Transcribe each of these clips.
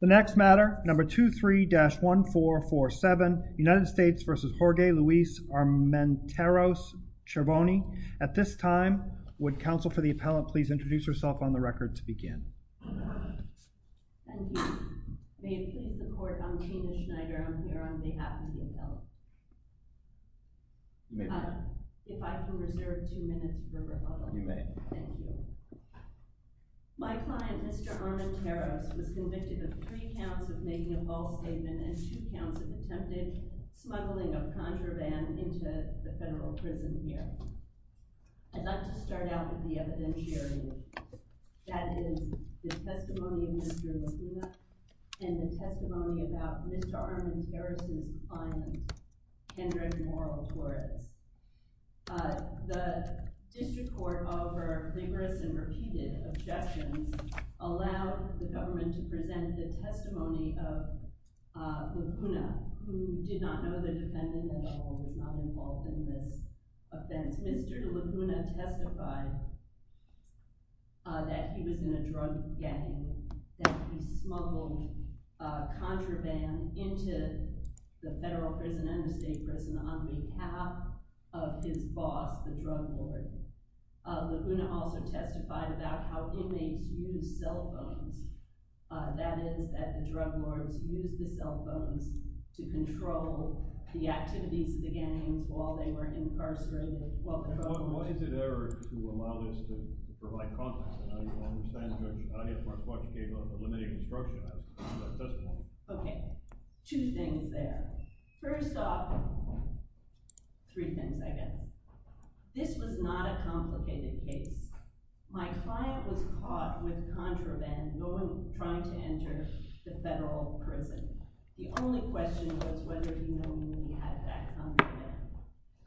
The next matter, number 23-1447, United States v. Jorge Luis Armenteros-Chervoni. At this time, would counsel for the appellant please introduce herself on the record to begin? Thank you. May it please the court, I'm Tina Schneider. I'm here on behalf of the appellant. If I can reserve two minutes for rebuttal. You may. Thank you. My client, Mr. Armenteros, was convicted of three counts of making a false statement and two counts of attempted smuggling of contraband into the federal prison here. I'd like to start out with the evidentiary. That is the testimony of Mr. Laguna and the testimony about Mr. Armenteros' client, Kendrick Moral Torres. The district court, over numerous and repeated objections, allowed the government to present the testimony of Laguna, who did not know the defendant at all, was not involved in this offense. Mr. Laguna testified that he was in a drug gang, that he smuggled contraband into the federal prison and the state prison on behalf of his boss, the drug lord. Laguna also testified about how inmates used cell phones. That is, that the drug lords used the cell phones to control the activities of the gangs while they were incarcerated. What is it there to allow this to provide confidence? I don't understand much. I don't have much what you gave of limited instruction. I was just looking at the testimony. OK. Two things there. First off, three things, I guess. This was not a complicated case. My client was caught with contraband trying to enter the federal prison. The only question was whether he knew he had that contraband.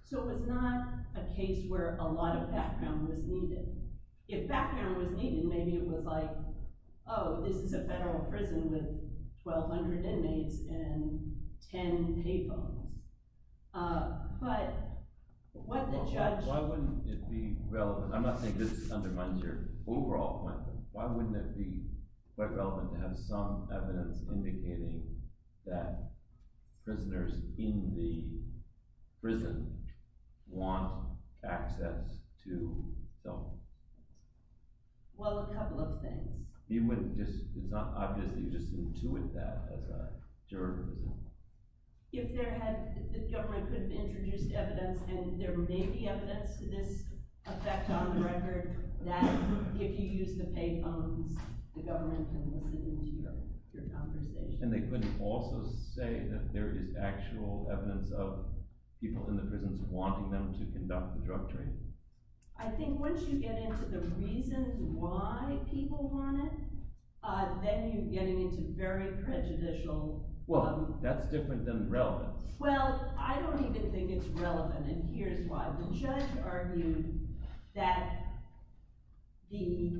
So it was not a case where a lot of background was needed. If background was needed, maybe it was like, oh, this is a federal prison with 1,200 inmates and 10 pay phones. But what the judge- Why wouldn't it be relevant? I'm not saying this undermines your overall point, but why wouldn't it be quite relevant to have some evidence indicating that prisoners in the prison want access to cell phones? Well, a couple of things. It's not obvious that you just intuit that as a juror, is it? If the government could have introduced evidence and there may be evidence to this effect on the record, that if you use the pay phones, the government can listen to your conversation. And they could also say that there is actual evidence of people in the prisons wanting them to conduct the drug trade. I think once you get into the reasons why people want it, then you're getting into very prejudicial- Well, that's different than relevant. Well, I don't even think it's relevant, and here's why. The judge argued that the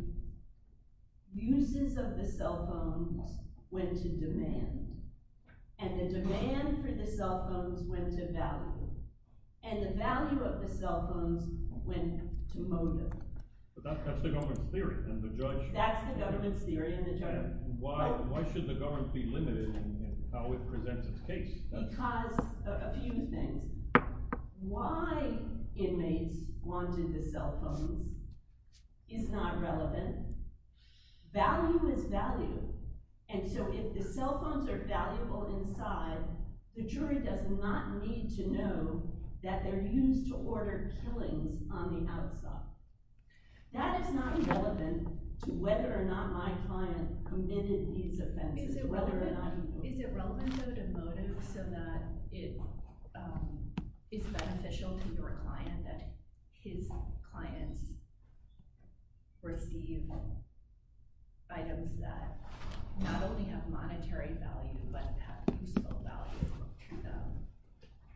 uses of the cell phones went to demand, and the demand for the cell phones went to value. And the value of the cell phones went to motive. But that's the government's theory, and the judge- That's the government's theory, and the judge- Why should the government be limited in how it presents its case? Because of a few things. Why inmates wanted the cell phones is not relevant. Value is value, and so if the cell phones are valuable inside, the jury does not need to know that they're used to order killings on the outside. That is not relevant to whether or not my client committed these offenses, whether or not he- Is it relevant though to motive so that it is beneficial to your client that his clients receive items that not only have monetary value but have useful value?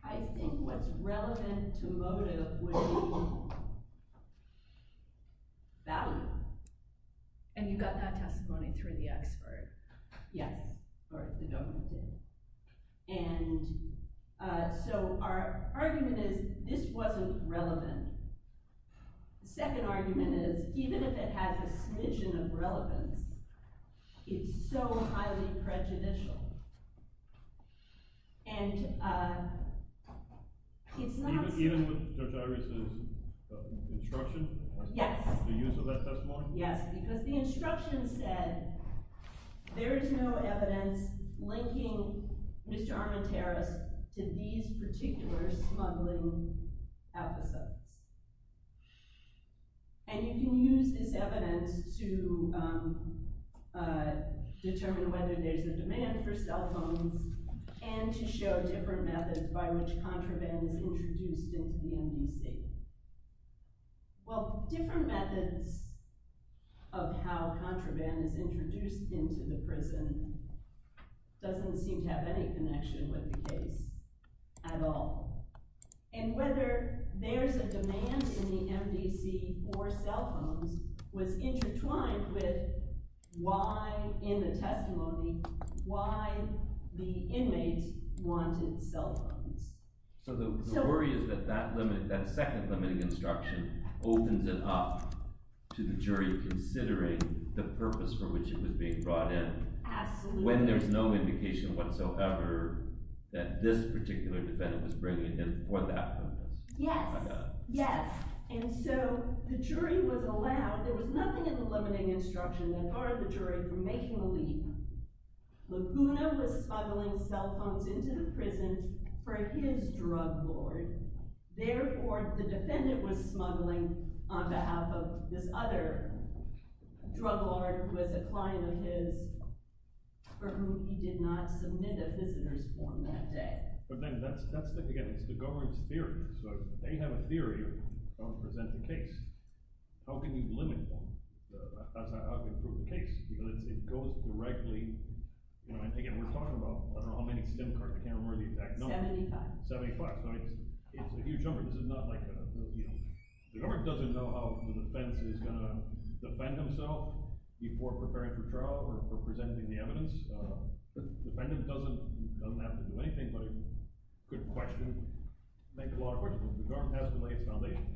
I think what's relevant to motive would be value, and you got that testimony through the expert. Yes, or the government did. And so our argument is this wasn't relevant. The second argument is even if it has a smidgen of relevance, it's so highly prejudicial. And it's not- Even with Judge Iris' instruction? Yes. The use of that testimony? Yes, because the instruction said there is no evidence linking Mr. Armenteris to these particular smuggling episodes. And you can use this evidence to determine whether there's a demand for cell phones and to show different methods by which contraband is introduced into the MDC. Well, different methods of how contraband is introduced into the prison doesn't seem to have any connection with the case at all. And whether there's a demand in the MDC for cell phones was intertwined with why, in the testimony, why the inmates wanted cell phones. So the worry is that that second limiting instruction opens it up to the jury considering the purpose for which it was being brought in. Absolutely. When there's no indication whatsoever that this particular defendant was bringing it in for that purpose. Yes. I got it. Yes. And so the jury was allowed- There was nothing in the limiting instruction that barred the jury from making a leap. Laguna was smuggling cell phones into the prison for his drug lord. Therefore, the defendant was smuggling on behalf of this other drug lord who was a client of his for whom he did not submit a visitor's form that day. But then that's the thing again. It's the government's theory. So if they have a theory of how to present the case, how can you limit them? How can you prove the case? Because it goes directly- Again, we're talking about I don't know how many STEM cards. I can't remember the exact number. Seventy-five. Seventy-five. So it's a huge number. This is not like a- The government doesn't know how the defense is going to defend himself before preparing for trial or for presenting the evidence. The defendant doesn't have to do anything but could question, make a lot of questions. The government has to lay its foundation.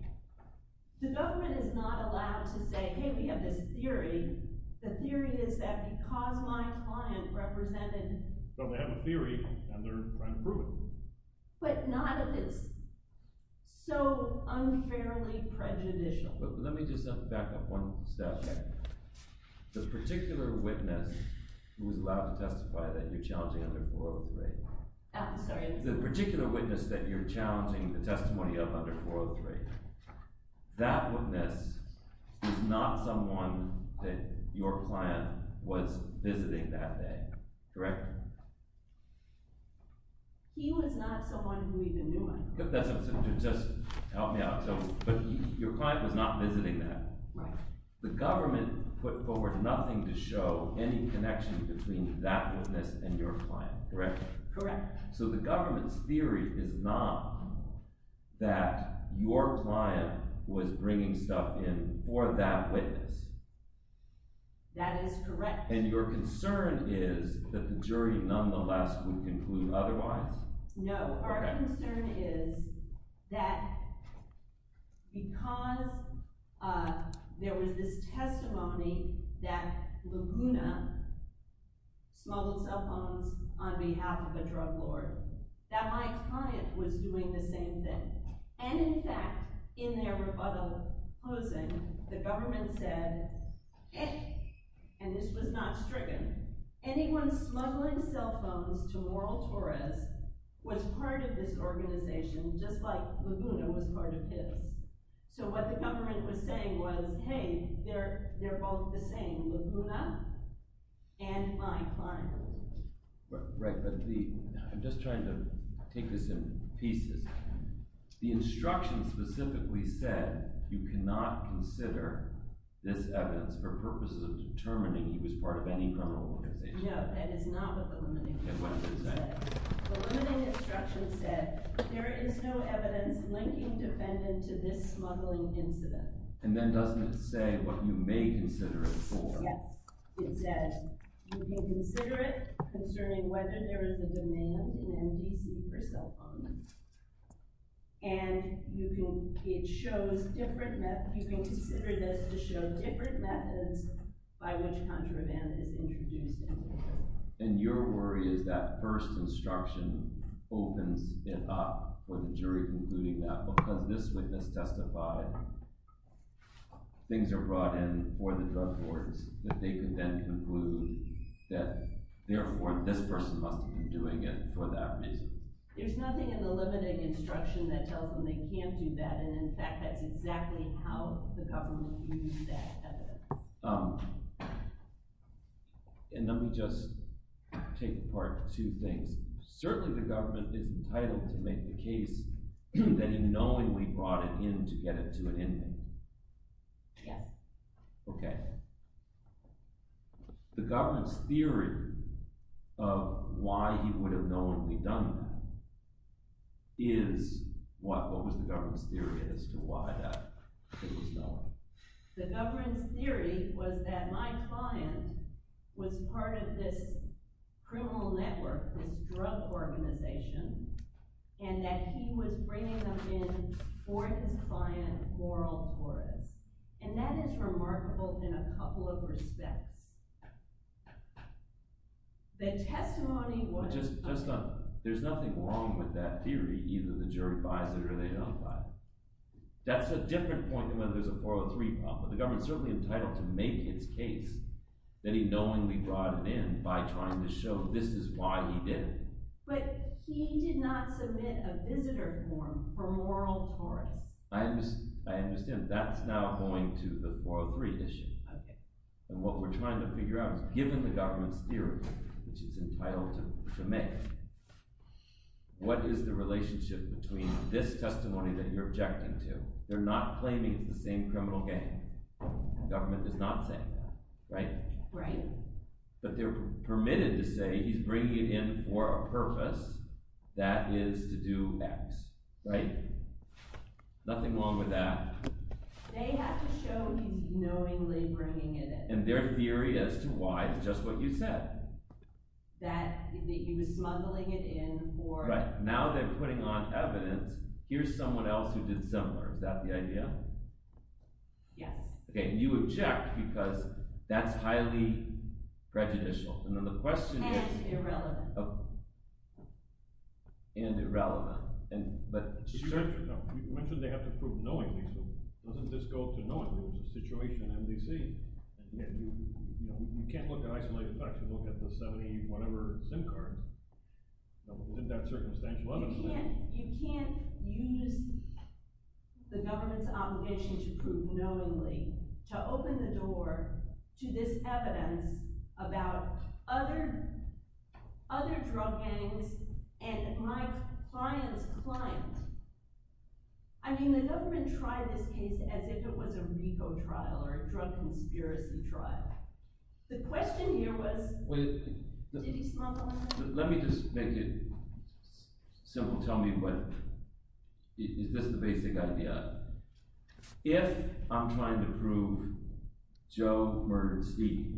The government is not allowed to say, hey, we have this theory. The theory is that because my client represented- So they have a theory, and they're trying to prove it. But none of this. So unfairly prejudicial. Let me just back up one step. The particular witness who was allowed to testify that you're challenging under 403- I'm sorry. The particular witness that you're challenging the testimony of under 403, that witness is not someone that your client was visiting that day. Correct? He was not someone who even knew I was there. Just help me out. But your client was not visiting that. Right. The government put forward nothing to show any connection between that witness and your client, correct? Correct. So the government's theory is not that your client was bringing stuff in for that witness. That is correct. And your concern is that the jury nonetheless would conclude otherwise? No. Our concern is that because there was this testimony that Laguna smuggled cell phones on behalf of a drug lord, that my client was doing the same thing. And in fact, in their rebuttal closing, the government said, and this was not stricken, anyone smuggling cell phones to Laurel Torres was part of this organization, just like Laguna was part of his. So what the government was saying was, hey, they're both the same, Laguna and my client. Right, but I'm just trying to take this in pieces. The instruction specifically said you cannot consider this evidence for purposes of determining he was part of any criminal organization. No, that is not what the limiting instruction said. What does it say? The limiting instruction said there is no evidence linking defendant to this smuggling incident. And then doesn't it say what you may consider it for? Yes, it says you can consider it concerning whether there is a demand in MDC for cell phones. And you can consider this to show different methods by which contraband is introduced. And your worry is that first instruction opens it up for the jury concluding that because this witness testified, things are brought in for the drug courts, that they can then conclude that therefore this person must have been doing it for that reason. There's nothing in the limiting instruction that tells them they can't do that, and in fact that's exactly how the government used that evidence. And let me just take apart two things. Certainly the government is entitled to make the case that in knowing we brought it in to get it to an ending. Okay. The government's theory of why he would have known we'd done that is what? What was the government's theory as to why that it was known? The government's theory was that my client was part of this criminal network, this drug organization, and that he was bringing up in for his client oral torts. And that is remarkable in a couple of respects. The testimony was… There's nothing wrong with that theory. Either the jury buys it or they don't buy it. That's a different point than whether there's a 403 problem. The government's certainly entitled to make its case that he knowingly brought it in by trying to show this is why he did it. But he did not submit a visitor form for oral torts. I understand. That's now going to the 403 issue. Okay. And what we're trying to figure out is given the government's theory, which it's entitled to make, what is the relationship between this testimony that you're objecting to? They're not claiming it's the same criminal gang. The government is not saying that, right? Right. But they're permitted to say he's bringing it in for a purpose, that is to do X, right? Nothing wrong with that. They have to show he's knowingly bringing it in. And their theory as to why is just what you said. That he was smuggling it in for— Now they're putting on evidence. Here's someone else who did similar. Is that the idea? Yes. Okay, and you object because that's highly prejudicial. And then the question is— And irrelevant. And irrelevant. You mentioned they have to prove knowingly, so doesn't this go to knowingly? It's a situation in MDC. You can't look at isolated facts and look at the 70-whatever SIM cards. Isn't that circumstantial evidence? You can't use the government's obligation to prove knowingly to open the door to this evidence about other drug gangs and my client's client. I mean, the government tried this case as if it was a RICO trial or a drug conspiracy trial. The question here was, did he smuggle it in? Let me just make it simple. Tell me, is this the basic idea? If I'm trying to prove Joe murdered Steve,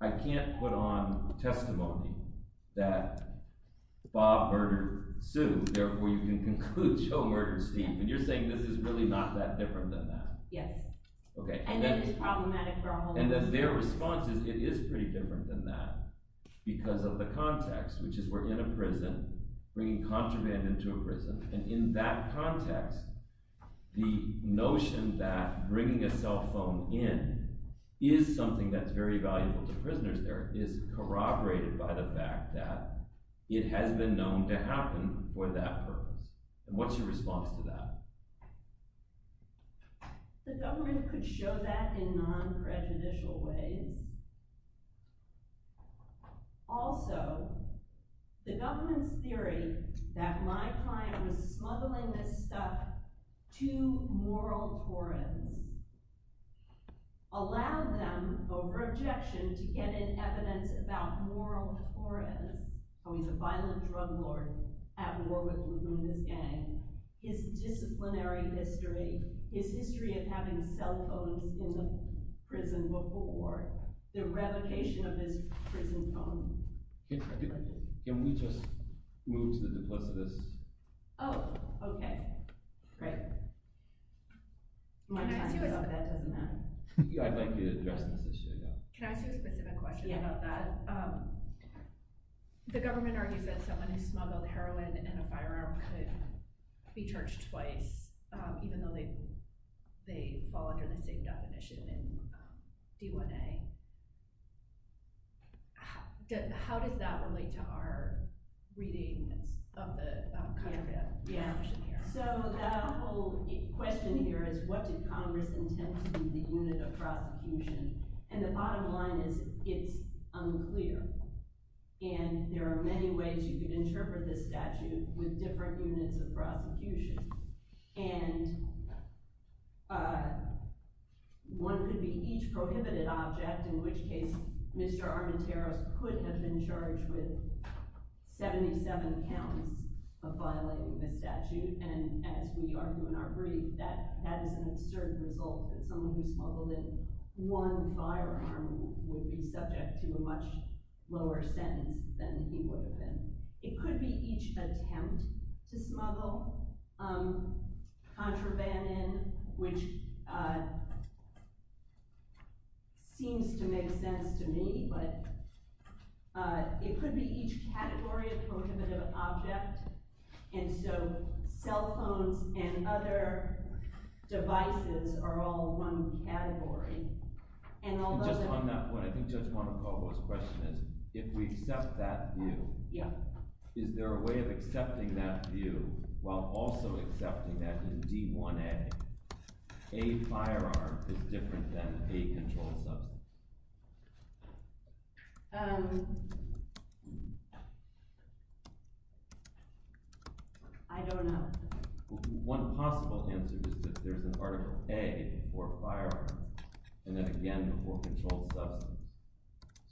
I can't put on testimony that Bob murdered Sue. Therefore, you can conclude Joe murdered Steve. And you're saying this is really not that different than that. Yes. Okay. I know this is problematic for a whole lot of people. And their response is it is pretty different than that because of the context, which is we're in a prison bringing contraband into a prison. And in that context, the notion that bringing a cell phone in is something that's very valuable to prisoners there is corroborated by the fact that it has been known to happen for that purpose. And what's your response to that? The government could show that in non-prejudicial ways. Also, the government's theory that my client was smuggling this stuff to moral torrents allowed them, over objection, to get in evidence about moral torrents. Can we just move to the duplicitous? Oh, okay. Great. I'd like to address this issue. Can I ask you a specific question about that? The government argues that someone who smuggled heroin and a firearm could be charged twice, even though they fall under the same definition in D1A. How does that relate to our readings of the contraband? So the whole question here is what did Congress intend to do with the unit of prosecution? And the bottom line is it's unclear. And there are many ways you could interpret this statute with different units of prosecution. And one could be each prohibited object, in which case Mr. Armenteros could have been charged with 77 counts of violating the statute. And as we argue in our brief, that is an absurd result that someone who smuggled in one firearm would be subject to a much lower sentence than he would have been. It could be each attempt to smuggle contraband in, which seems to make sense to me, but it could be each category of prohibited object. And so cell phones and other devices are all one category. And just on that point, I think Judge Monacovo's question is, if we accept that view, is there a way of accepting that view while also accepting that in D1A, a firearm is different than a controlled substance? I don't know. One possible answer is that there's an Article A for a firearm, and then again, for a controlled substance.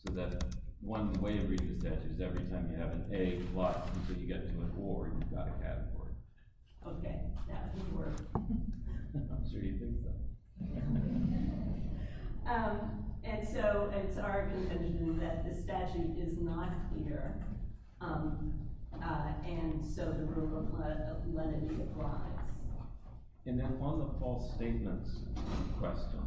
So that one way of reading the statute is every time you have an A+, until you get to an or, you've got a category. Okay, that would work. I'm sure you'd think so. And so it's our contention that the statute is not clear, and so the rule of lenity applies. And then on the false statements question,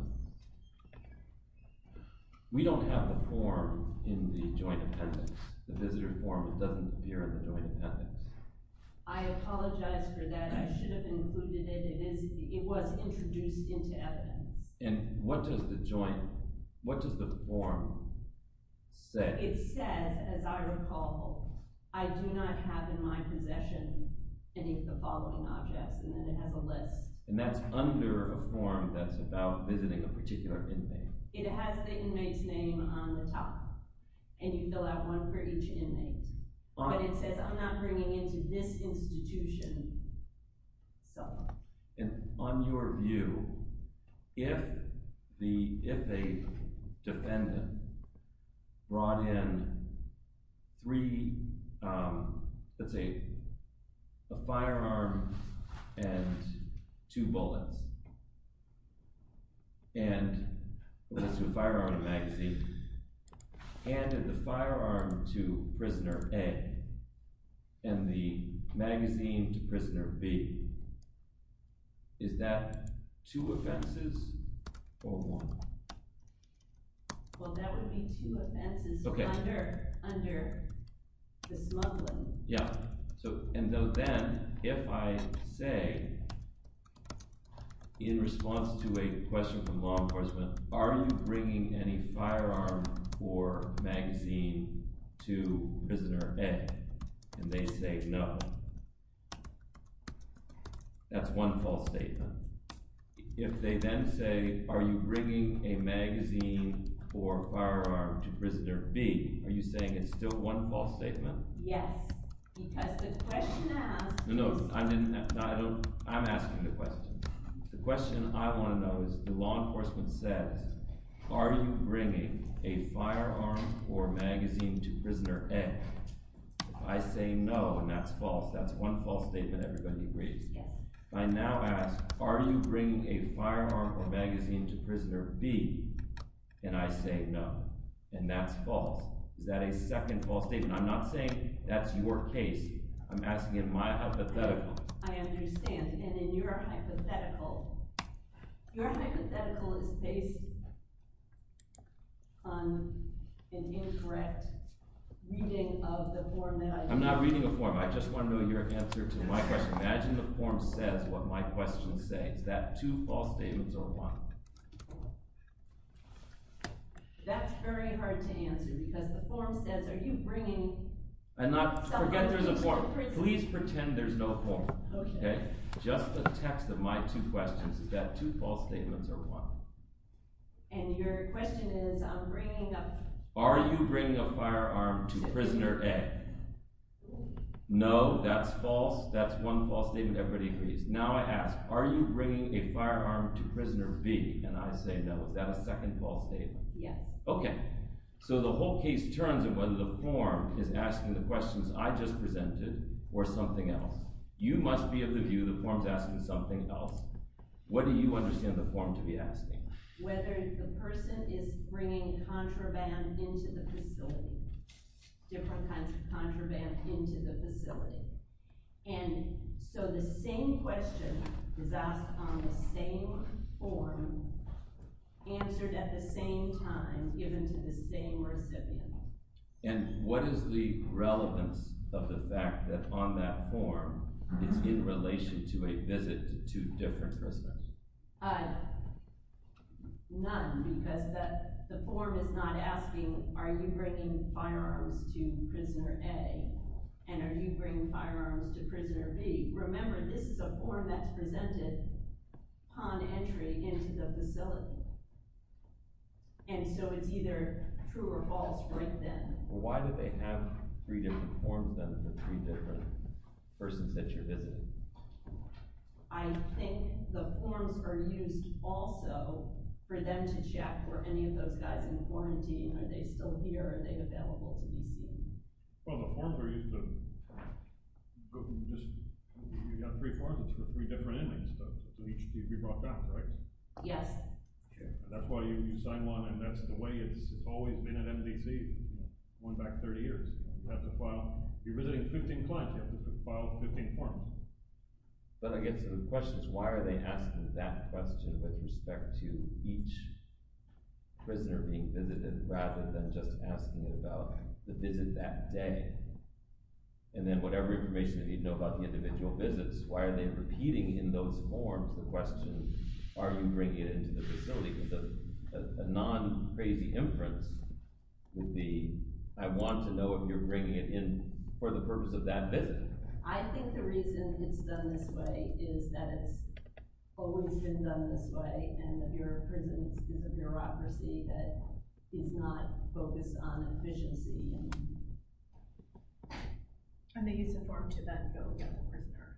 we don't have the form in the joint appendix. The visitor form doesn't appear in the joint appendix. I apologize for that. I should have included it. It was introduced into evidence. And what does the form say? It says, as I recall, I do not have in my possession any of the following objects, and then it has a list. And that's under a form that's about visiting a particular inmate. It has the inmate's name on the top, and you fill out one for each inmate. But it says, I'm not bringing into this institution. So. On your view, if a defendant brought in three, let's see, a firearm and two bullets, and let's do a firearm and a magazine. Handed the firearm to prisoner A and the magazine to prisoner B, is that two offenses or one? Well, that would be two offenses under the smuggling. Yeah. And then if I say, in response to a question from law enforcement, are you bringing any firearm or magazine to prisoner A? And they say no. That's one false statement. If they then say, are you bringing a magazine or firearm to prisoner B, are you saying it's still one false statement? Yes. Because the question asks. No, no. I'm asking the question. The question I want to know is, the law enforcement says, are you bringing a firearm or magazine to prisoner A? I say no, and that's false. That's one false statement. Everybody agrees. Yes. I now ask, are you bringing a firearm or magazine to prisoner B? And I say no. And that's false. Is that a second false statement? I'm not saying that's your case. I'm asking in my hypothetical. I understand. And in your hypothetical, your hypothetical is based on an incorrect reading of the form that I gave you. I'm not reading a form. I just want to know your answer to my question. Imagine the form says what my question says. Is that two false statements or one? That's very hard to answer because the form says, are you bringing something to prisoner A? Forget there's a form. Please pretend there's no form. Okay. Just the text of my two questions is that two false statements or one. And your question is, I'm bringing a— Are you bringing a firearm to prisoner A? No, that's false. That's one false statement. Everybody agrees. Now I ask, are you bringing a firearm to prisoner B? And I say no. Is that a second false statement? Yes. Okay. So the whole case turns in whether the form is asking the questions I just presented or something else. You must be of the view the form's asking something else. What do you understand the form to be asking? Whether the person is bringing contraband into the facility, different kinds of contraband into the facility. And so the same question is asked on the same form, answered at the same time, given to the same recipient. And what is the relevance of the fact that on that form it's in relation to a visit to two different prisoners? None, because the form is not asking, are you bringing firearms to prisoner A? And are you bringing firearms to prisoner B? Remember, this is a form that's presented upon entry into the facility. And so it's either true or false right then. Why do they have three different forms then for three different persons that you're visiting? I think the forms are used also for them to check were any of those guys in quarantine. Are they still here? Are they available to be seen? Well, the forms are used to – you've got three forms for three different inmates, so each can be brought back, right? Yes. That's why you sign one, and that's the way it's always been at MDC, going back 30 years. You have to file – you're visiting 15 clients. You have to file 15 forms. Then I get to the questions. Why are they asking that question with respect to each prisoner being visited rather than just asking about the visit that day? And then whatever information they need to know about the individual visits, why are they repeating in those forms the question, are you bringing it into the facility? A non-crazy inference would be, I want to know if you're bringing it in for the purpose of that visit. I think the reason it's done this way is that it's always been done this way, and the Bureau of Prisons is a bureaucracy that is not focused on efficiency. And they use a form to then go get the prisoner.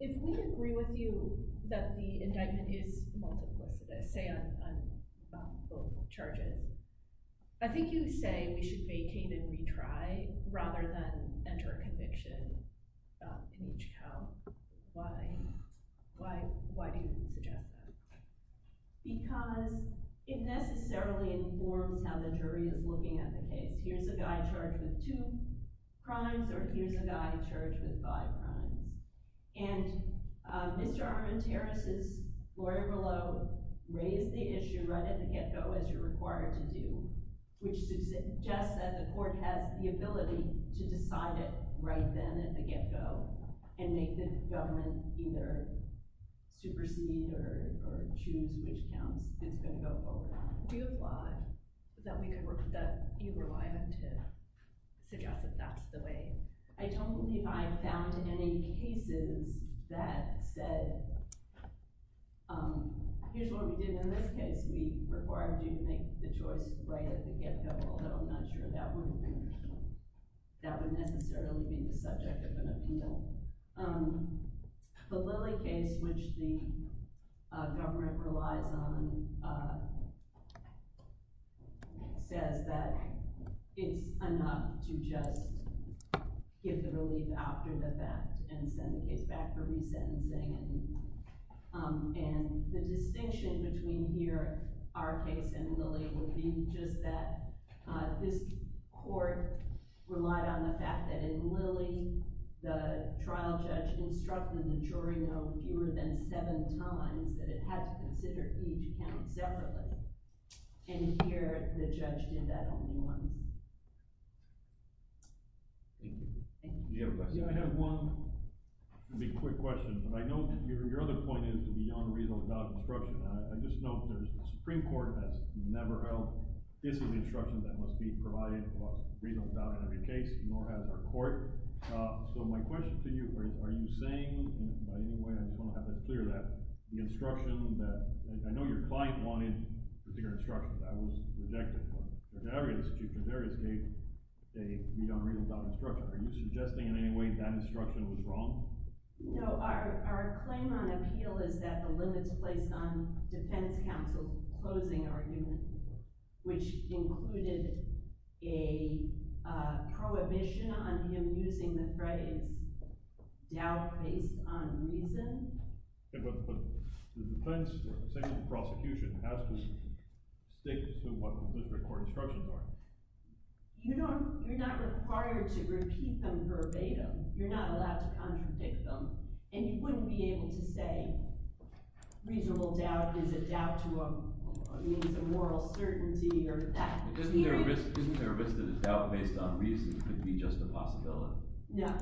If we agree with you that the indictment is multiplicitous, say on both charges, I think you say we should vacate and retry rather than enter a conviction in each count. Why do you suggest that? Because it necessarily informs how the jury is looking at the case. Here's a guy charged with two crimes, or here's a guy charged with five crimes. And Mr. Armenteris' lawyer below raised the issue right at the get-go, as you're required to do, which suggests that the court has the ability to decide it right then at the get-go and make the government either supersede or choose which counts. It's going to go forward. Do you applaud that we could work with that? Do you rely on him to suggest that that's the way? I don't believe I found any cases that said, here's what we did in this case. We required you to make the choice right at the get-go, although I'm not sure that would necessarily be the subject of an appeal. The Lilly case, which the government relies on, says that it's enough to just give the relief after the fact and send the case back for resentencing. And the distinction between here, our case, and Lilly would be just that this court relied on the fact that in Lilly, the trial judge instructed the jury no fewer than seven times that it had to consider each count separately. And here, the judge did that only once. Thank you. Do you have a question? Yeah, I have one. It's going to be a quick question. But I know your other point is beyond reasonable doubt instruction. I just know there's a Supreme Court that's never held this is instruction that must be provided across reasonable doubt in every case, nor has our court. So my question to you, are you saying – and by any way, I just want to have it clear that the instruction that – I know your client wanted particular instructions. That was rejected. But in various cases, they need unreasonable doubt instruction. Are you suggesting in any way that instruction was wrong? Our claim on appeal is that the limits placed on defense counsel closing argument, which included a prohibition on him using the phrase doubt based on reason. But the defense, same as the prosecution, has to stick to what the district court instructions are. You're not required to repeat them verbatim. You're not allowed to contradict them, and you wouldn't be able to say reasonable doubt is a doubt to a means of moral certainty or that. Isn't there a risk that a doubt based on reason could be just a possibility? No.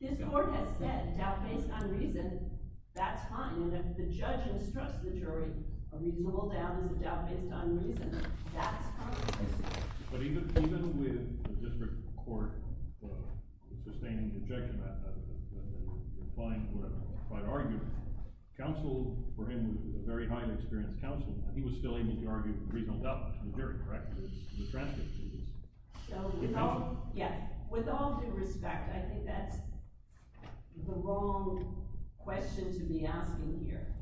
This court has said doubt based on reason, that's fine. And if the judge instructs the jury a reasonable doubt is a doubt based on reason, that's fine. But even with the district court sustaining objection to that, the client would argue counsel for him was a very highly experienced counsel. He was still able to argue reasonable doubt to the jury, correct? So with all due respect, I think that's the wrong question to be asking here,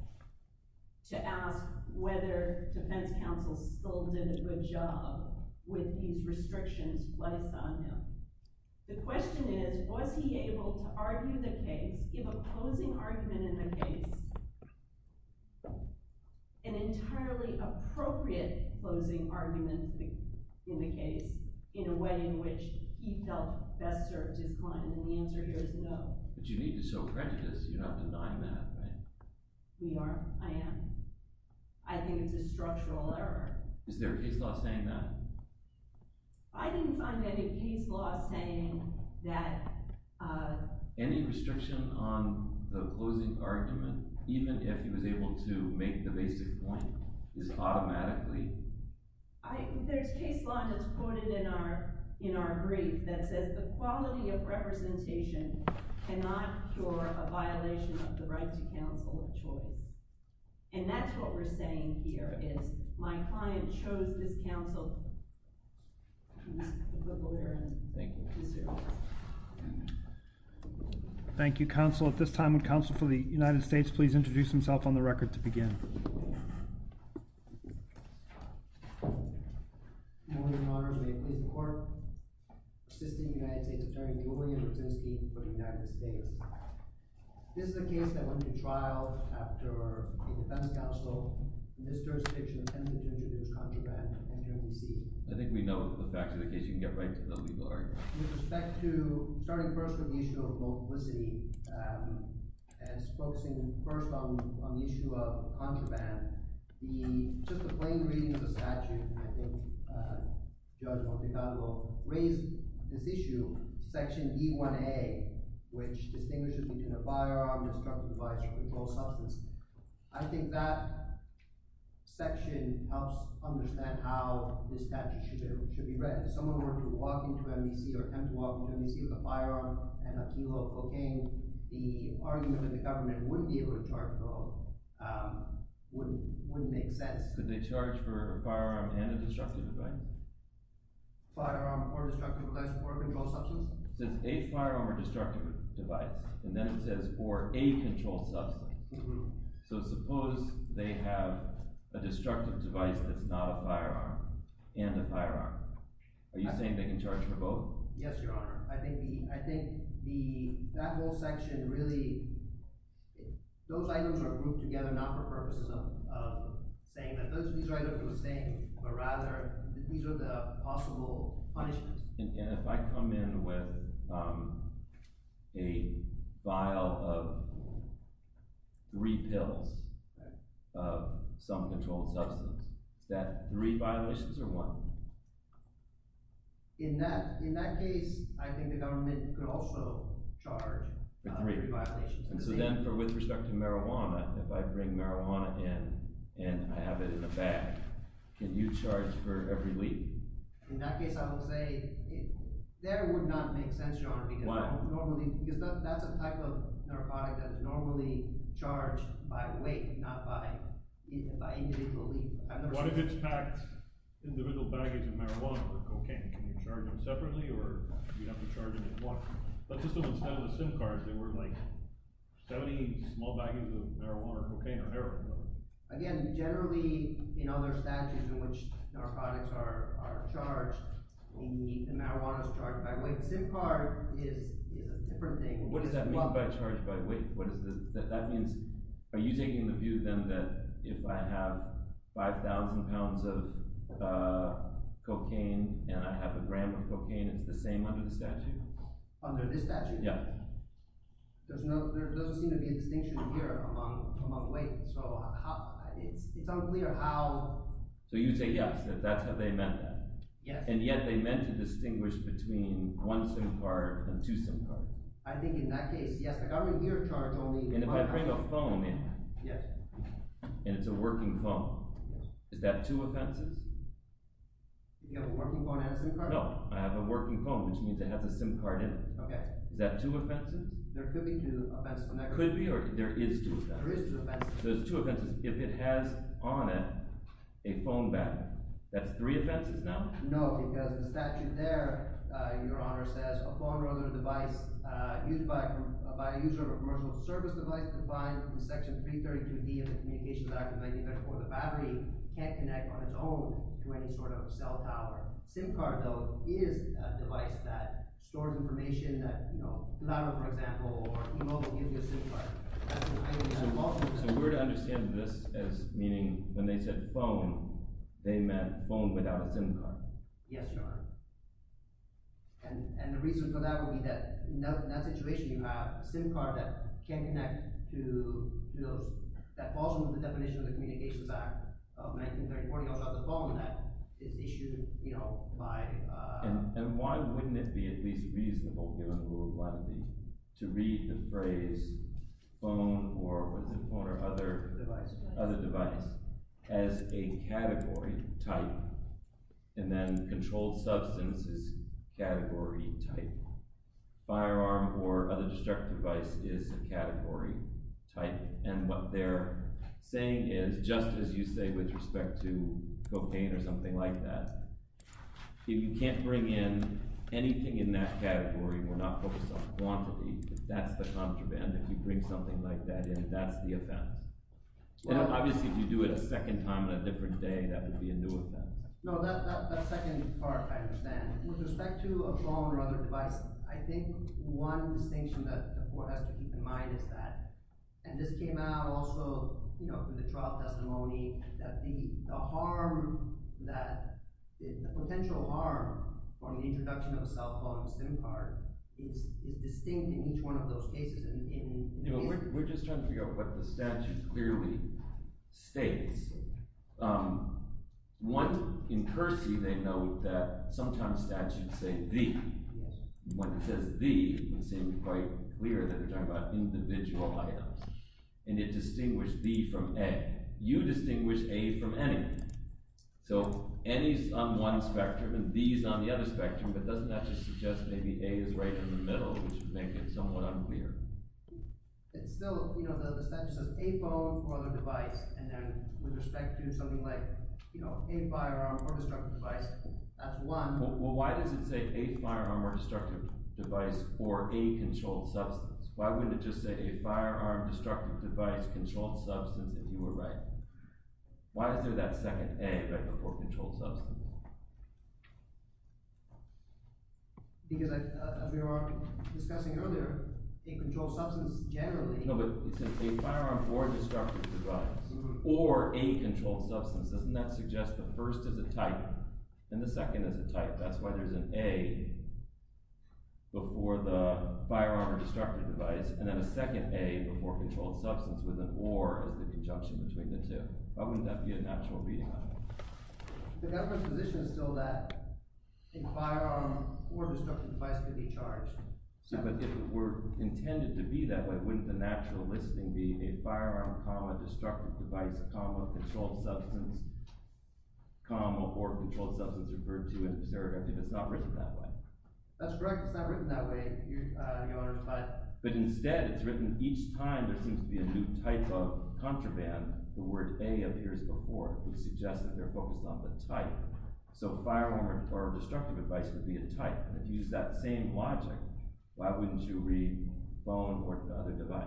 to ask whether defense counsel still did a good job with these restrictions placed on him. The question is, was he able to argue the case, give a closing argument in the case, an entirely appropriate closing argument in the case in a way in which he felt best served his client? And the answer here is no. But you need to show prejudice. You're not denying that, right? We are. I am. I think it's a structural error. Is there a case law saying that? I didn't find any case law saying that. Any restriction on the closing argument, even if he was able to make the basic point, is automatically? There's case law that's quoted in our brief that says the quality of representation cannot cure a violation of the right to counsel of choice. And that's what we're saying here, is my client chose this counsel. Thank you, counsel. At this time, would counsel for the United States please introduce himself on the record to begin? Good morning, Your Honors. May it please the Court? Assistant United States Attorney Julian Brzezinski for the United States. This is a case that went to trial after a defense counsel in this jurisdiction attempted to introduce contraband into NBC. I think we know the facts of the case. You can get right to the legal argument. With respect to starting first with the issue of multiplicity and focusing first on the issue of contraband, just a plain reading of the statute, I think Judge Montecarlo raised this issue, Section E1A, which distinguishes between a firearm, destructive device, or controlled substance. I think that section helps understand how this statute should be read. If someone were to walk into NBC or attempt to walk into NBC with a firearm and a kilo of cocaine, the argument that the government wouldn't be able to charge for them wouldn't make sense. Could they charge for a firearm and a destructive device? Firearm or destructive device or controlled substance? It says a firearm or destructive device, and then it says or a controlled substance. So suppose they have a destructive device that's not a firearm and a firearm. Are you saying they can charge for both? Yes, Your Honor. I think that whole section really – those items are grouped together not for purposes of saying that those things are the same, but rather these are the possible punishments. And if I come in with a vial of three pills of some controlled substance, is that three violations or one? In that case, I think the government could also charge for three violations. So then with respect to marijuana, if I bring marijuana in and I have it in a bag, can you charge for every lead? In that case, I would say there it would not make sense, Your Honor. Why? Because that's a type of narcotic that is normally charged by weight, not by individual lead. What if it's packed individual baggage of marijuana or cocaine? Can you charge them separately or do you have to charge them in bulk? Let's assume instead of the SIM cards, there were like 70 small baggages of marijuana or cocaine or heroin. Again, generally in other statutes in which narcotics are charged, we need the marijuanas charged by weight. SIM card is a different thing. What does that mean by charged by weight? That means – are you taking the view then that if I have 5,000 pounds of cocaine and I have a gram of cocaine, it's the same under the statute? Under this statute? Yeah. There doesn't seem to be a distinction here among weight, so it's unclear how… So you say yes, if that's how they meant that. Yes. And yet they meant to distinguish between one SIM card and two SIM cards. I think in that case, yes. Like I would be charged only… And if I bring a phone in and it's a working phone, is that two offenses? You have a working phone and a SIM card? No, I have a working phone, which means it has a SIM card in it. Okay. Is that two offenses? There could be two offenses. Could be, or there is two offenses? There is two offenses. So there's two offenses if it has on it a phone battery. That's three offenses now? No, because the statute there, Your Honor, says a phone or other device used by a user of a commercial service device defined from Section 332D of the Communications Act of 1994, the battery can't connect on its own to any sort of cell tower. A SIM card, though, is a device that stores information that, you know… For example, e-mail will give you a SIM card. So we're to understand this as meaning when they said phone, they meant phone without a SIM card? Yes, Your Honor. And the reason for that would be that in that situation, you have a SIM card that can't connect to those… That falls under the definition of the Communications Act of 1934. You also have the phone that is issued, you know, by… And why wouldn't it be at least reasonable, Your Honor, to read the phrase phone or other device as a category type? And then controlled substance is category type. Firearm or other destructive device is a category type. And what they're saying is, just as you say with respect to cocaine or something like that, if you can't bring in anything in that category, we're not focused on quantity, that's the contraband. If you bring something like that in, that's the offense. And obviously if you do it a second time on a different day, that would be a new offense. No, that second part I understand. With respect to a phone or other device, I think one distinction that the court has to keep in mind is that – and this came out also, you know, in the trial testimony – that the potential harm from the introduction of a cell phone SIM card is distinct in each one of those cases. We're just trying to figure out what the statute clearly states. One, in Kersey, they note that sometimes statutes say the. When it says the, it seems quite clear that they're talking about individual items. And it distinguished the from a. You distinguish a from any. So any is on one spectrum and the is on the other spectrum, but doesn't that just suggest maybe a is right in the middle, which would make it somewhat unclear? It's still – you know, the statute says a phone or other device. And then with respect to something like a firearm or destructive device, that's one. Well, why does it say a firearm or destructive device or a controlled substance? Why wouldn't it just say a firearm, destructive device, controlled substance if you were right? Why is there that second a right before controlled substance? Because as we were discussing earlier, a controlled substance generally – No, but it says a firearm or destructive device or a controlled substance. Doesn't that suggest the first is a type and the second is a type? That's why there's an a before the firearm or destructive device, and then a second a before controlled substance with an or as the conjunction between the two. Why wouldn't that be a natural reading on it? The government's position is still that a firearm or destructive device could be charged. But if it were intended to be that way, wouldn't the natural listing be a firearm, destructive device, controlled substance, or controlled substance referred to in the surrogate if it's not written that way? That's correct. It's not written that way. But instead, it's written each time there seems to be a new type of contraband, the word a appears before, which suggests that they're focused on the type. So a firearm or destructive device would be a type. And if you use that same logic, why wouldn't you read phone or the other device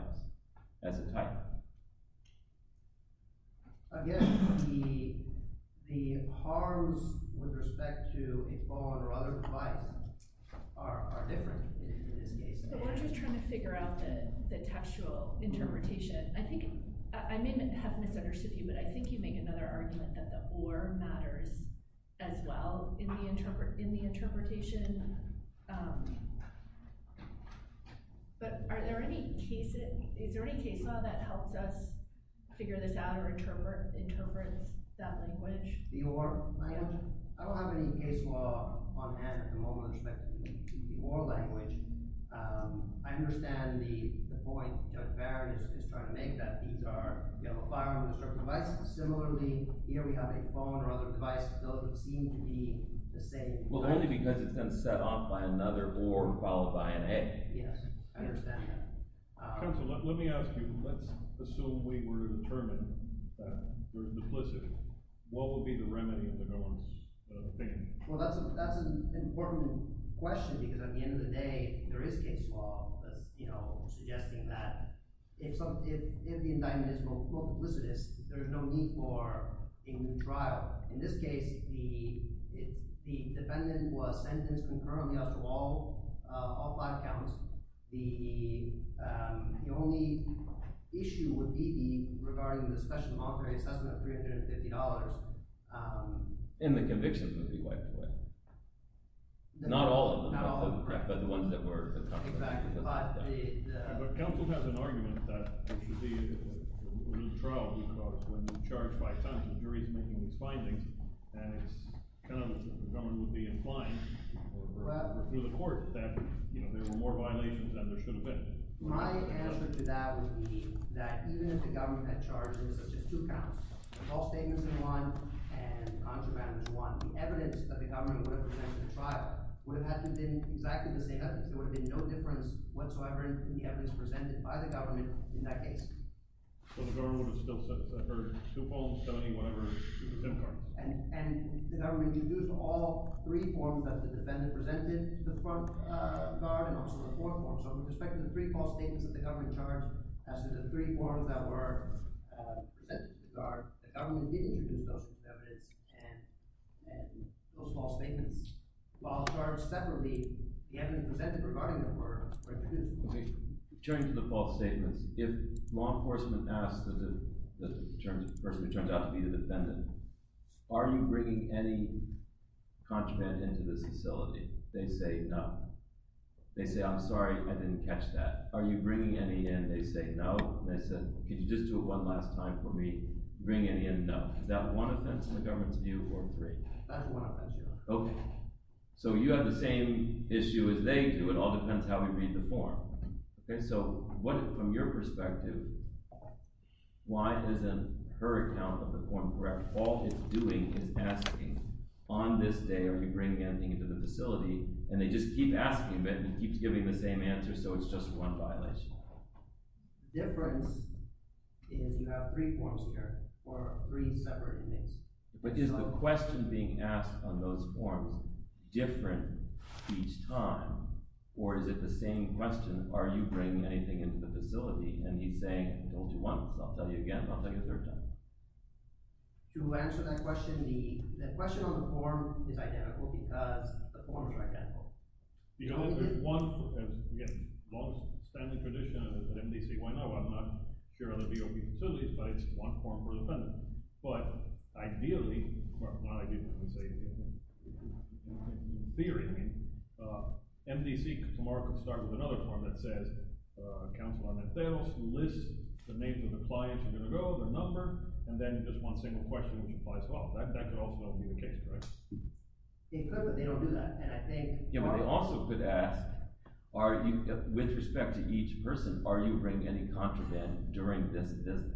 as a type? Again, the harms with respect to a phone or other device are different in this case. But we're just trying to figure out the textual interpretation. I may have misunderstood you, but I think you make another argument that the or matters as well in the interpretation. But is there any case law that helps us figure this out or interprets that language? The or. I don't have any case law on hand at the moment with respect to the or language. I understand the point that Barrett is trying to make, that these are a firearm and a destructive device. Similarly, here we have a phone or other device. Those seem to be the same type. Well, only because it's been set off by another or followed by an a. Yes, I understand that. Counsel, let me ask you. Let's assume we were determined that we're neplicit. What would be the remedy of the no one's thinking? Well, that's an important question, because at the end of the day, there is case law, you know, suggesting that if the indictment is, quote, neplicitous, there's no need for a new trial. In this case, the defendant was sentenced concurrently after all five counts. The only issue would be regarding the special monetary assessment of $350. And the convictions would be wiped away. Not all of them, but the ones that were. But counsel has an argument that there should be a new trial, because when you charge five times, the jury is making these findings. And it's kind of the government would be inclined through the court that, you know, there were more violations than there should have been. My answer to that would be that even if the government had charges of just two counts, false statements in one and contraband in one, the evidence that the government would have presented in the trial would have had to have been exactly the same evidence. There would have been no difference whatsoever in the evidence presented by the government in that case. So the government would have still set aside two forms, 70, whatever, to the contempt court. And the government introduced all three forms that the defendant presented to the front guard and also the court form. So with respect to the three false statements that the government charged, as to the three forms that were presented to the guard, the government did introduce those three evidence and those false statements. While charged separately, the evidence presented regarding them were pretty different. Okay, turning to the false statements, if law enforcement asks the person who turns out to be the defendant, are you bringing any contraband into this facility? They say no. They say I'm sorry, I didn't catch that. Are you bringing any in? They say no. They said, can you just do it one last time for me? Bring any in? No. Is that one offense in the government's view or three? That's one offense, Your Honor. Okay. So you have the same issue as they do. It all depends how we read the form. Okay, so from your perspective, why isn't her account of the form correct? All it's doing is asking, on this day, are you bringing anything into the facility? And they just keep asking, but he keeps giving the same answer, so it's just one violation. The difference is you have three forms here for three separate inmates. But is the question being asked on those forms different each time, or is it the same question, are you bringing anything into the facility? And he's saying, don't you want this? I'll tell you again, but I'll tell you a third time. To answer that question, the question on the form is identical because the form is identical. Again, longstanding tradition at MDC. Why not? Well, I'm not sure of the DOP facilities, but it's one form per defendant. But ideally – not ideally, I would say in theory. I mean, MDC tomorrow could start with another form that says Counselor Annette Theros, who lists the names of the clients who are going to go, their number, and then just one single question can apply as well. That could also be the case, correct? They could, but they don't do that. Yeah, but they also could ask, with respect to each person, are you bringing any contraband during this visit?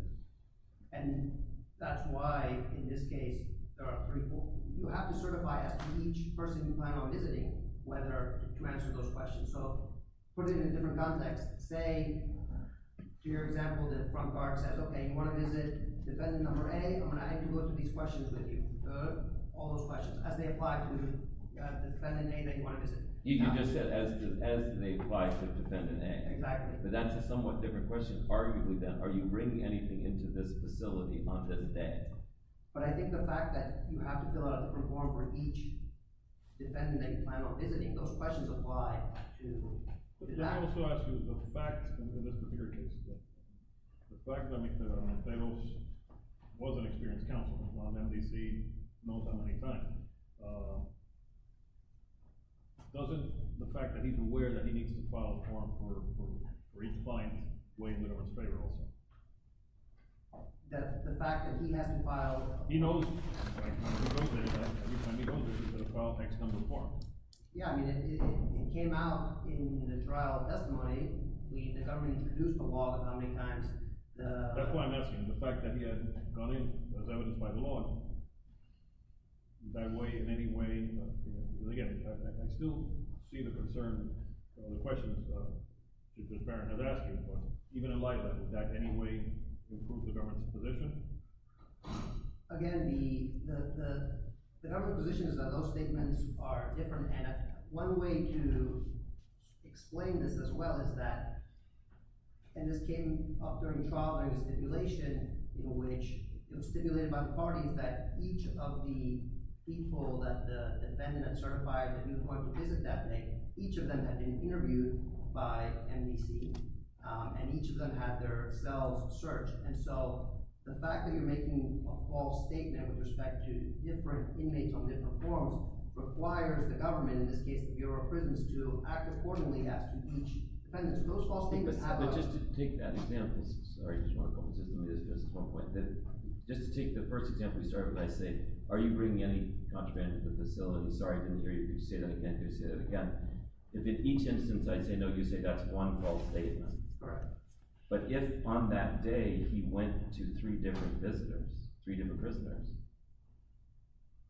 And that's why, in this case, there are three forms. You have to certify as to each person you plan on visiting whether you answered those questions. So put it in a different context. Say, to your example, the front guard says, okay, you want to visit defendant number A, I'm going to have to go through these questions with you. All those questions, as they apply to defendant A that you want to visit. You just said, as they apply to defendant A. Exactly. But that's a somewhat different question, arguably, then. Are you bringing anything into this facility on this day? But I think the fact that you have to fill out a different form for each defendant that you plan on visiting, those questions apply to – Let me also ask you, the fact – and this is a bigger case. The fact that Mr. Montalos was an experienced counsel on the MDC not that many times, doesn't the fact that he's aware that he needs to file a form for each client weigh in in everyone's favor also? The fact that he hasn't filed – He knows, at least when he goes there, that a file takes a different form. Yeah, I mean, it came out in the trial testimony. The government introduced the law, but how many times the – That's why I'm asking. The fact that he hasn't gone in, does that identify the law? Does that weigh in in any way – Again, I still see the concern of the questions that the defendant has asked you, but even in light of that, does that in any way improve the government's position? Again, the government position is that those statements are different, and one way to explain this as well is that – and this came up during the trial, during the stipulation, in which it was stipulated by the parties that each of the people that the defendant had certified that he was going to visit that day, each of them had been interviewed by MDC, and each of them had their cells searched. And so the fact that you're making a false statement with respect to different inmates on different forms requires the government, in this case the Bureau of Prisons, to act accordingly as to each defendant. So those false statements have a – But just to take that example – sorry, I just want to – let me just address this one point. Just to take the first example you started with, I say, are you bringing any contraband to the facility? Sorry, I didn't hear you. Could you say that again? Could you say that again? If in each instance I say no, you say that's one false statement. Correct. But if on that day he went to three different visitors, three different prisoners,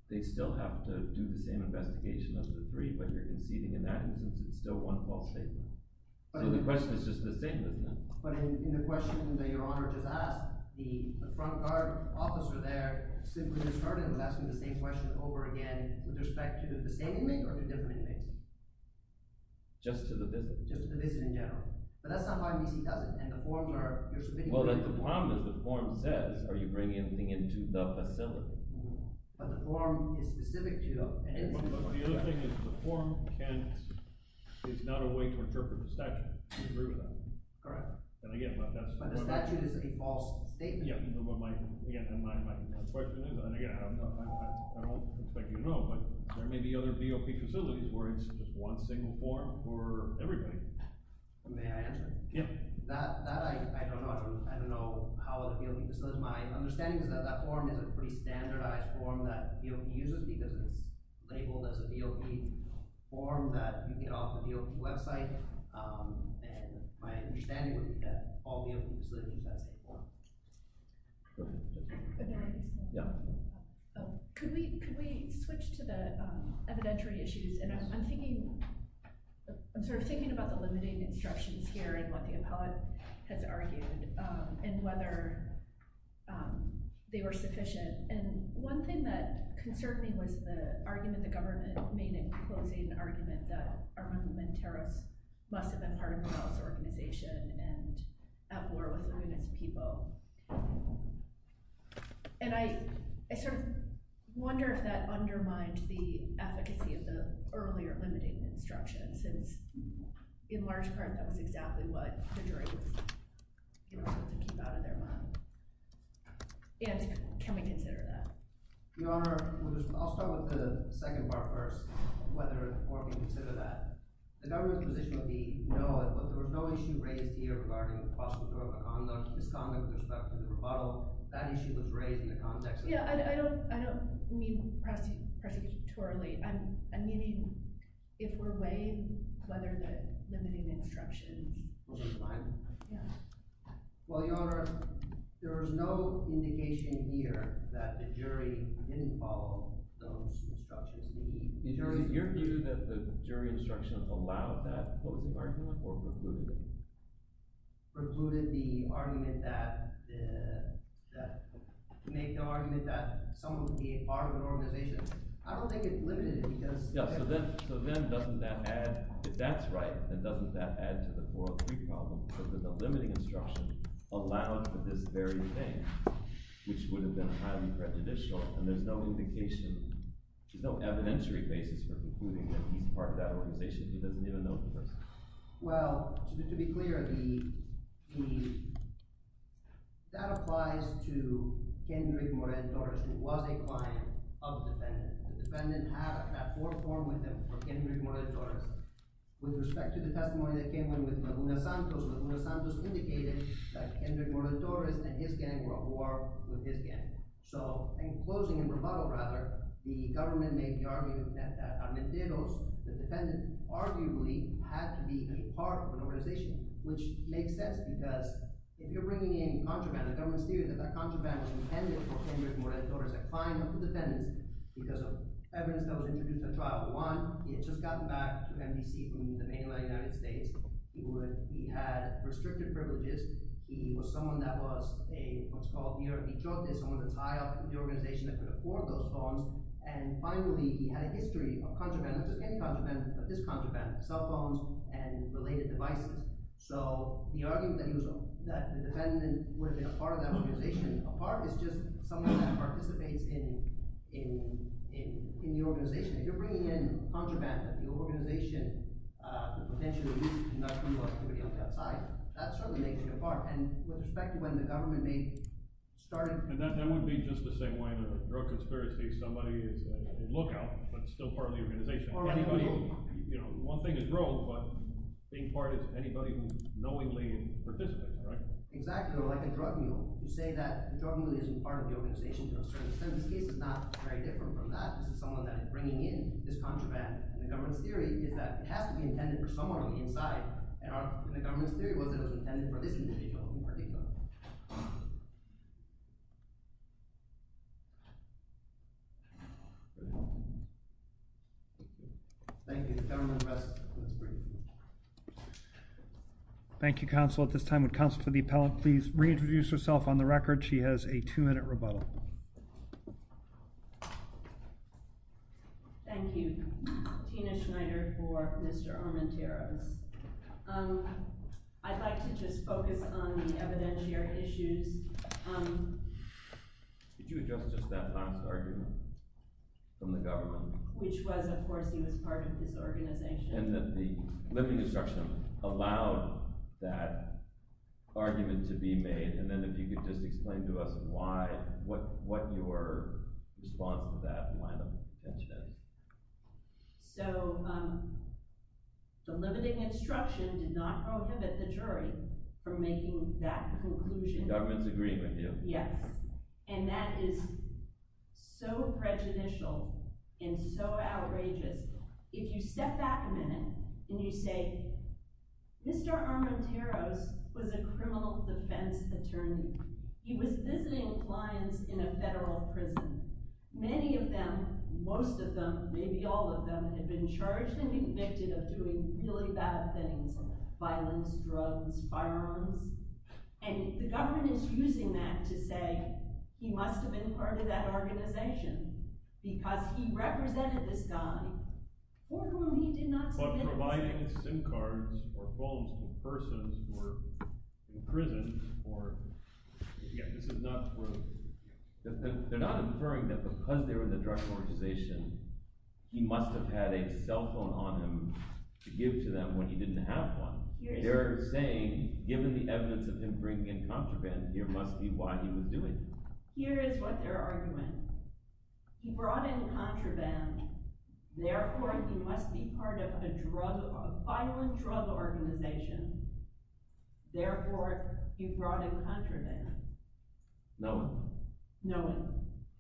they still have to do the same investigation of the three, but you're conceding in that instance it's still one false statement. So the question is just the same, isn't it? But in the question that Your Honor just asked, the front guard officer there simply just started with asking the same question over again with respect to the same inmate or to different inmates? Just to the visit. Just to the visit in general. But that's not why MDC does it, and the formula you're submitting – Well, the problem is the form says, are you bringing anything into the facility? But the form is specific to inmates. But the other thing is the form can't – it's not a way to interpret the statute. Do you agree with that? Correct. And again, but that's – But the statute is a false statement. Yeah, but my – again, my question is – and again, I don't expect you to know, but there may be other DOP facilities where it's just one single form for everybody. May I answer? Yeah. That I don't know. I don't know how other DOP facilities – my understanding is that that form is a pretty standardized form that DOP uses because it's labeled as a DOP form that you get off the DOP website. And my understanding would be that all DOP facilities use that same form. Okay. Yeah. Could we switch to the evidentiary issues? And I'm thinking – I'm sort of thinking about the limiting instructions here and what the appellate has argued and whether they were sufficient. And one thing that concerned me was the argument the government made in closing an argument that Armando Monteros must have been part of a violence organization and at war with Latinx people. And I sort of wonder if that undermined the efficacy of the earlier limiting instructions since, in large part, that was exactly what the jury was able to keep out of their mind. And can we consider that? Your Honor, I'll start with the second part first of whether or if you consider that. The government's position would be, no, there was no issue raised here regarding prosecutorial misconduct with respect to the rebuttal. That issue was raised in the context of – Yeah, I don't mean prosecutorially. I'm meaning if we're weighing whether the limiting instructions – Was it mine? Yeah. Well, Your Honor, there was no indication here that the jury didn't follow those instructions. Your view is that the jury instruction allowed that closing argument or precluded it? Precluded the argument that – make the argument that someone could be part of an organization. I don't think it limited it because – Yeah, so then doesn't that add – if that's right, then doesn't that add to the 403 problem? So there's no limiting instruction allowed for this very thing, which would have been highly prejudicial. And there's no indication – there's no evidentiary basis for concluding that he's part of that organization. He doesn't even know the person. Well, to be clear, the – that applies to Kendrick Morales-Torres, who was a client of the defendant. The defendant had a platform with him for Kendrick Morales-Torres. With respect to the testimony that came in with Laguna Santos, Laguna Santos indicated that Kendrick Morales-Torres and his gang were at war with his gang. So in closing, in rebuttal rather, the government made the argument that Armenteros, the defendant, arguably had to be a part of an organization, which makes sense. Because if you're bringing in contraband, the government's theory that that contraband was intended for Kendrick Morales-Torres, a client of the defendant, because of evidence that was introduced at trial. One, he had just gotten back to NBC from the mainland United States. He had restricted privileges. He was someone that was a – what's called a mir a trote, someone that's high up in the organization that could afford those phones. And finally, he had a history of contraband, not just any contraband, but this contraband, cell phones and related devices. So the argument that he was – that the defendant would have been a part of that organization, a part, is just someone that participates in the organization. If you're bringing in contraband that the organization potentially uses to conduct criminal activity on the outside, that certainly makes you a part. And with respect to when the government may start – And that would be just the same way in a drug conspiracy if somebody is a lookout but still part of the organization. Anybody – one thing is rogue, but being part is anybody who knowingly participates, right? Exactly, like a drug mule. You say that the drug mule isn't part of the organization to a certain extent. In this case, it's not very different from that. This is someone that is bringing in this contraband. And the government's theory is that it has to be intended for someone on the inside. And the government's theory was that it was intended for this individual in particular. Thank you. The government will rest. Thank you, Counsel. At this time, would Counsel for the Appellant please reintroduce herself on the record? She has a two-minute rebuttal. Thank you. Tina Schneider for Mr. Armenteros. I'd like to just focus on the evidentiary issues. Could you address just that last argument from the government? Which was, of course, he was part of this organization. And that the living instruction allowed that argument to be made. And then if you could just explain to us why, what your response to that line of defense is. So, the living instruction did not prohibit the jury from making that conclusion. The government's agreeing with you. Yes. And that is so prejudicial and so outrageous. If you step back a minute and you say, Mr. Armenteros was a criminal defense attorney. He was visiting clients in a federal prison. Many of them, most of them, maybe all of them, had been charged and convicted of doing really bad things. Violence, drugs, firearms. And the government is using that to say, he must have been part of that organization. Because he represented this guy for whom he did not submit. But providing SIM cards or phones to persons who were in prison or, yeah, this is not true. They're not inferring that because they were in the drug organization, he must have had a cell phone on him to give to them when he didn't have one. They're saying, given the evidence of him bringing in contraband, here must be why he was doing it. Here is what their argument. He brought in contraband. Therefore, he must be part of a drug, a violent drug organization. Therefore, he brought in contraband. Knowing.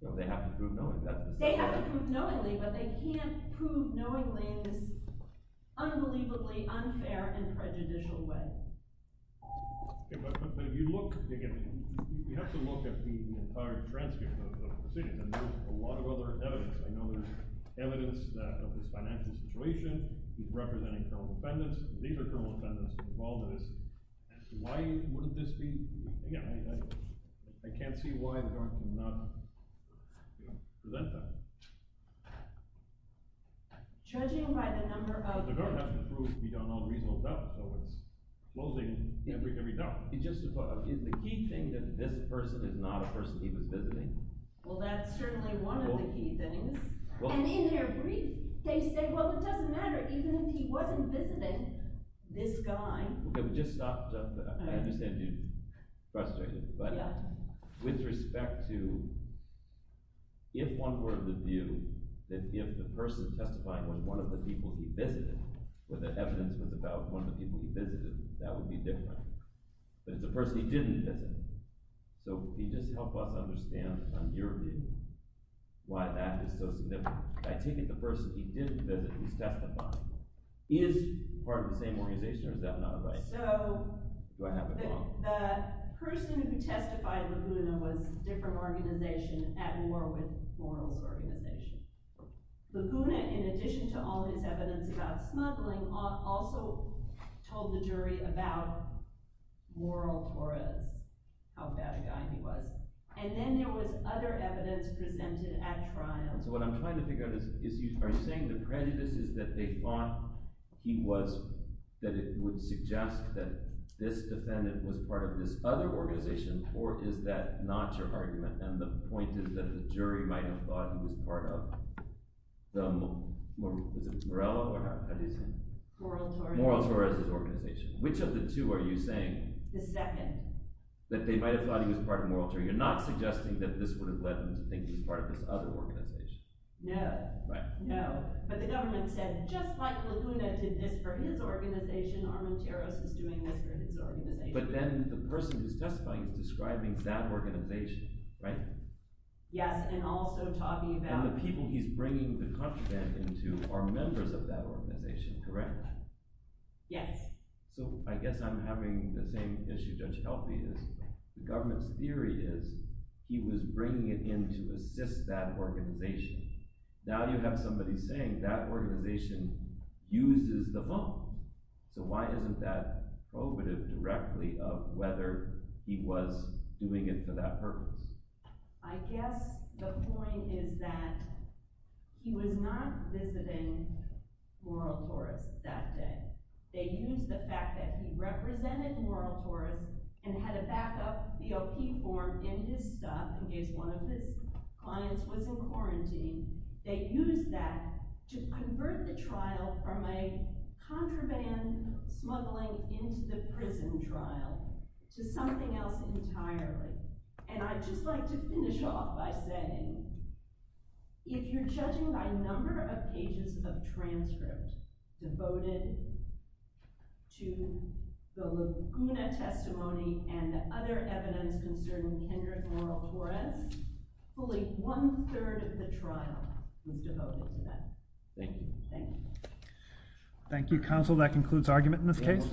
So they have to prove knowing. They have to prove knowingly, but they can't prove knowingly in this unbelievably unfair and prejudicial way. But if you look, again, you have to look at the entire transcript of the proceedings. And there's a lot of other evidence. I know there's evidence of this financial situation. He's representing criminal defendants. These are criminal defendants involved in this. Why would this be? Again, I can't see why the government would not present that. Judging by the number of… But the government has to prove we don't know the reasonable doubt. So it's closing every doubt. Justify. Is the key thing that this person is not a person he was visiting? Well, that's certainly one of the key things. And in their brief, they say, well, it doesn't matter even if he wasn't visiting this guy. Okay. We just stopped. I understand you're frustrated. But with respect to if one were of the view that if the person testifying was one of the people he visited, where the evidence was about one of the people he visited, that would be different. But it's a person he didn't visit. So can you just help us understand on your view why that is so significant? I take it the person he didn't visit who's testifying is part of the same organization, or is that not right? Do I have it wrong? The person who testified, Laguna, was a different organization at war with Moral's organization. Laguna, in addition to all his evidence about smuggling, also told the jury about Moral Torres, how bad a guy he was. And then there was other evidence presented at trial. So what I'm trying to figure out is you are saying the prejudice is that they thought he was – that it would suggest that this defendant was part of this other organization, or is that not your argument? And the point is that the jury might have thought he was part of the – is it Morello or how do you say it? Moral Torres. Moral Torres' organization. Which of the two are you saying? The second. That they might have thought he was part of Moral Torres. You're not suggesting that this would have led them to think he was part of this other organization. No. No. But the government said, just like Laguna did this for his organization, Armenteros is doing this for his organization. But then the person who's testifying is describing that organization, right? Yes, and also talking about – And the people he's bringing the content into are members of that organization, correct? Yes. So I guess I'm having the same issue, Judge Healthy, is the government's theory is he was bringing it in to assist that organization. Now you have somebody saying that organization uses the phone. So why isn't that prohibitive directly of whether he was doing it for that purpose? I guess the point is that he was not visiting Moral Torres that day. They used the fact that he represented Moral Torres and had a backup BOP form in his stuff in case one of his clients was in quarantine. They used that to convert the trial from a contraband smuggling into the prison trial to something else entirely. And I'd just like to finish off by saying, if you're judging by number of pages of transcript devoted to the Laguna testimony and other evidence concerning Kendrick Moral Torres, fully one-third of the trial was devoted to that. Thank you. Thank you, Counsel. That concludes argument in this case.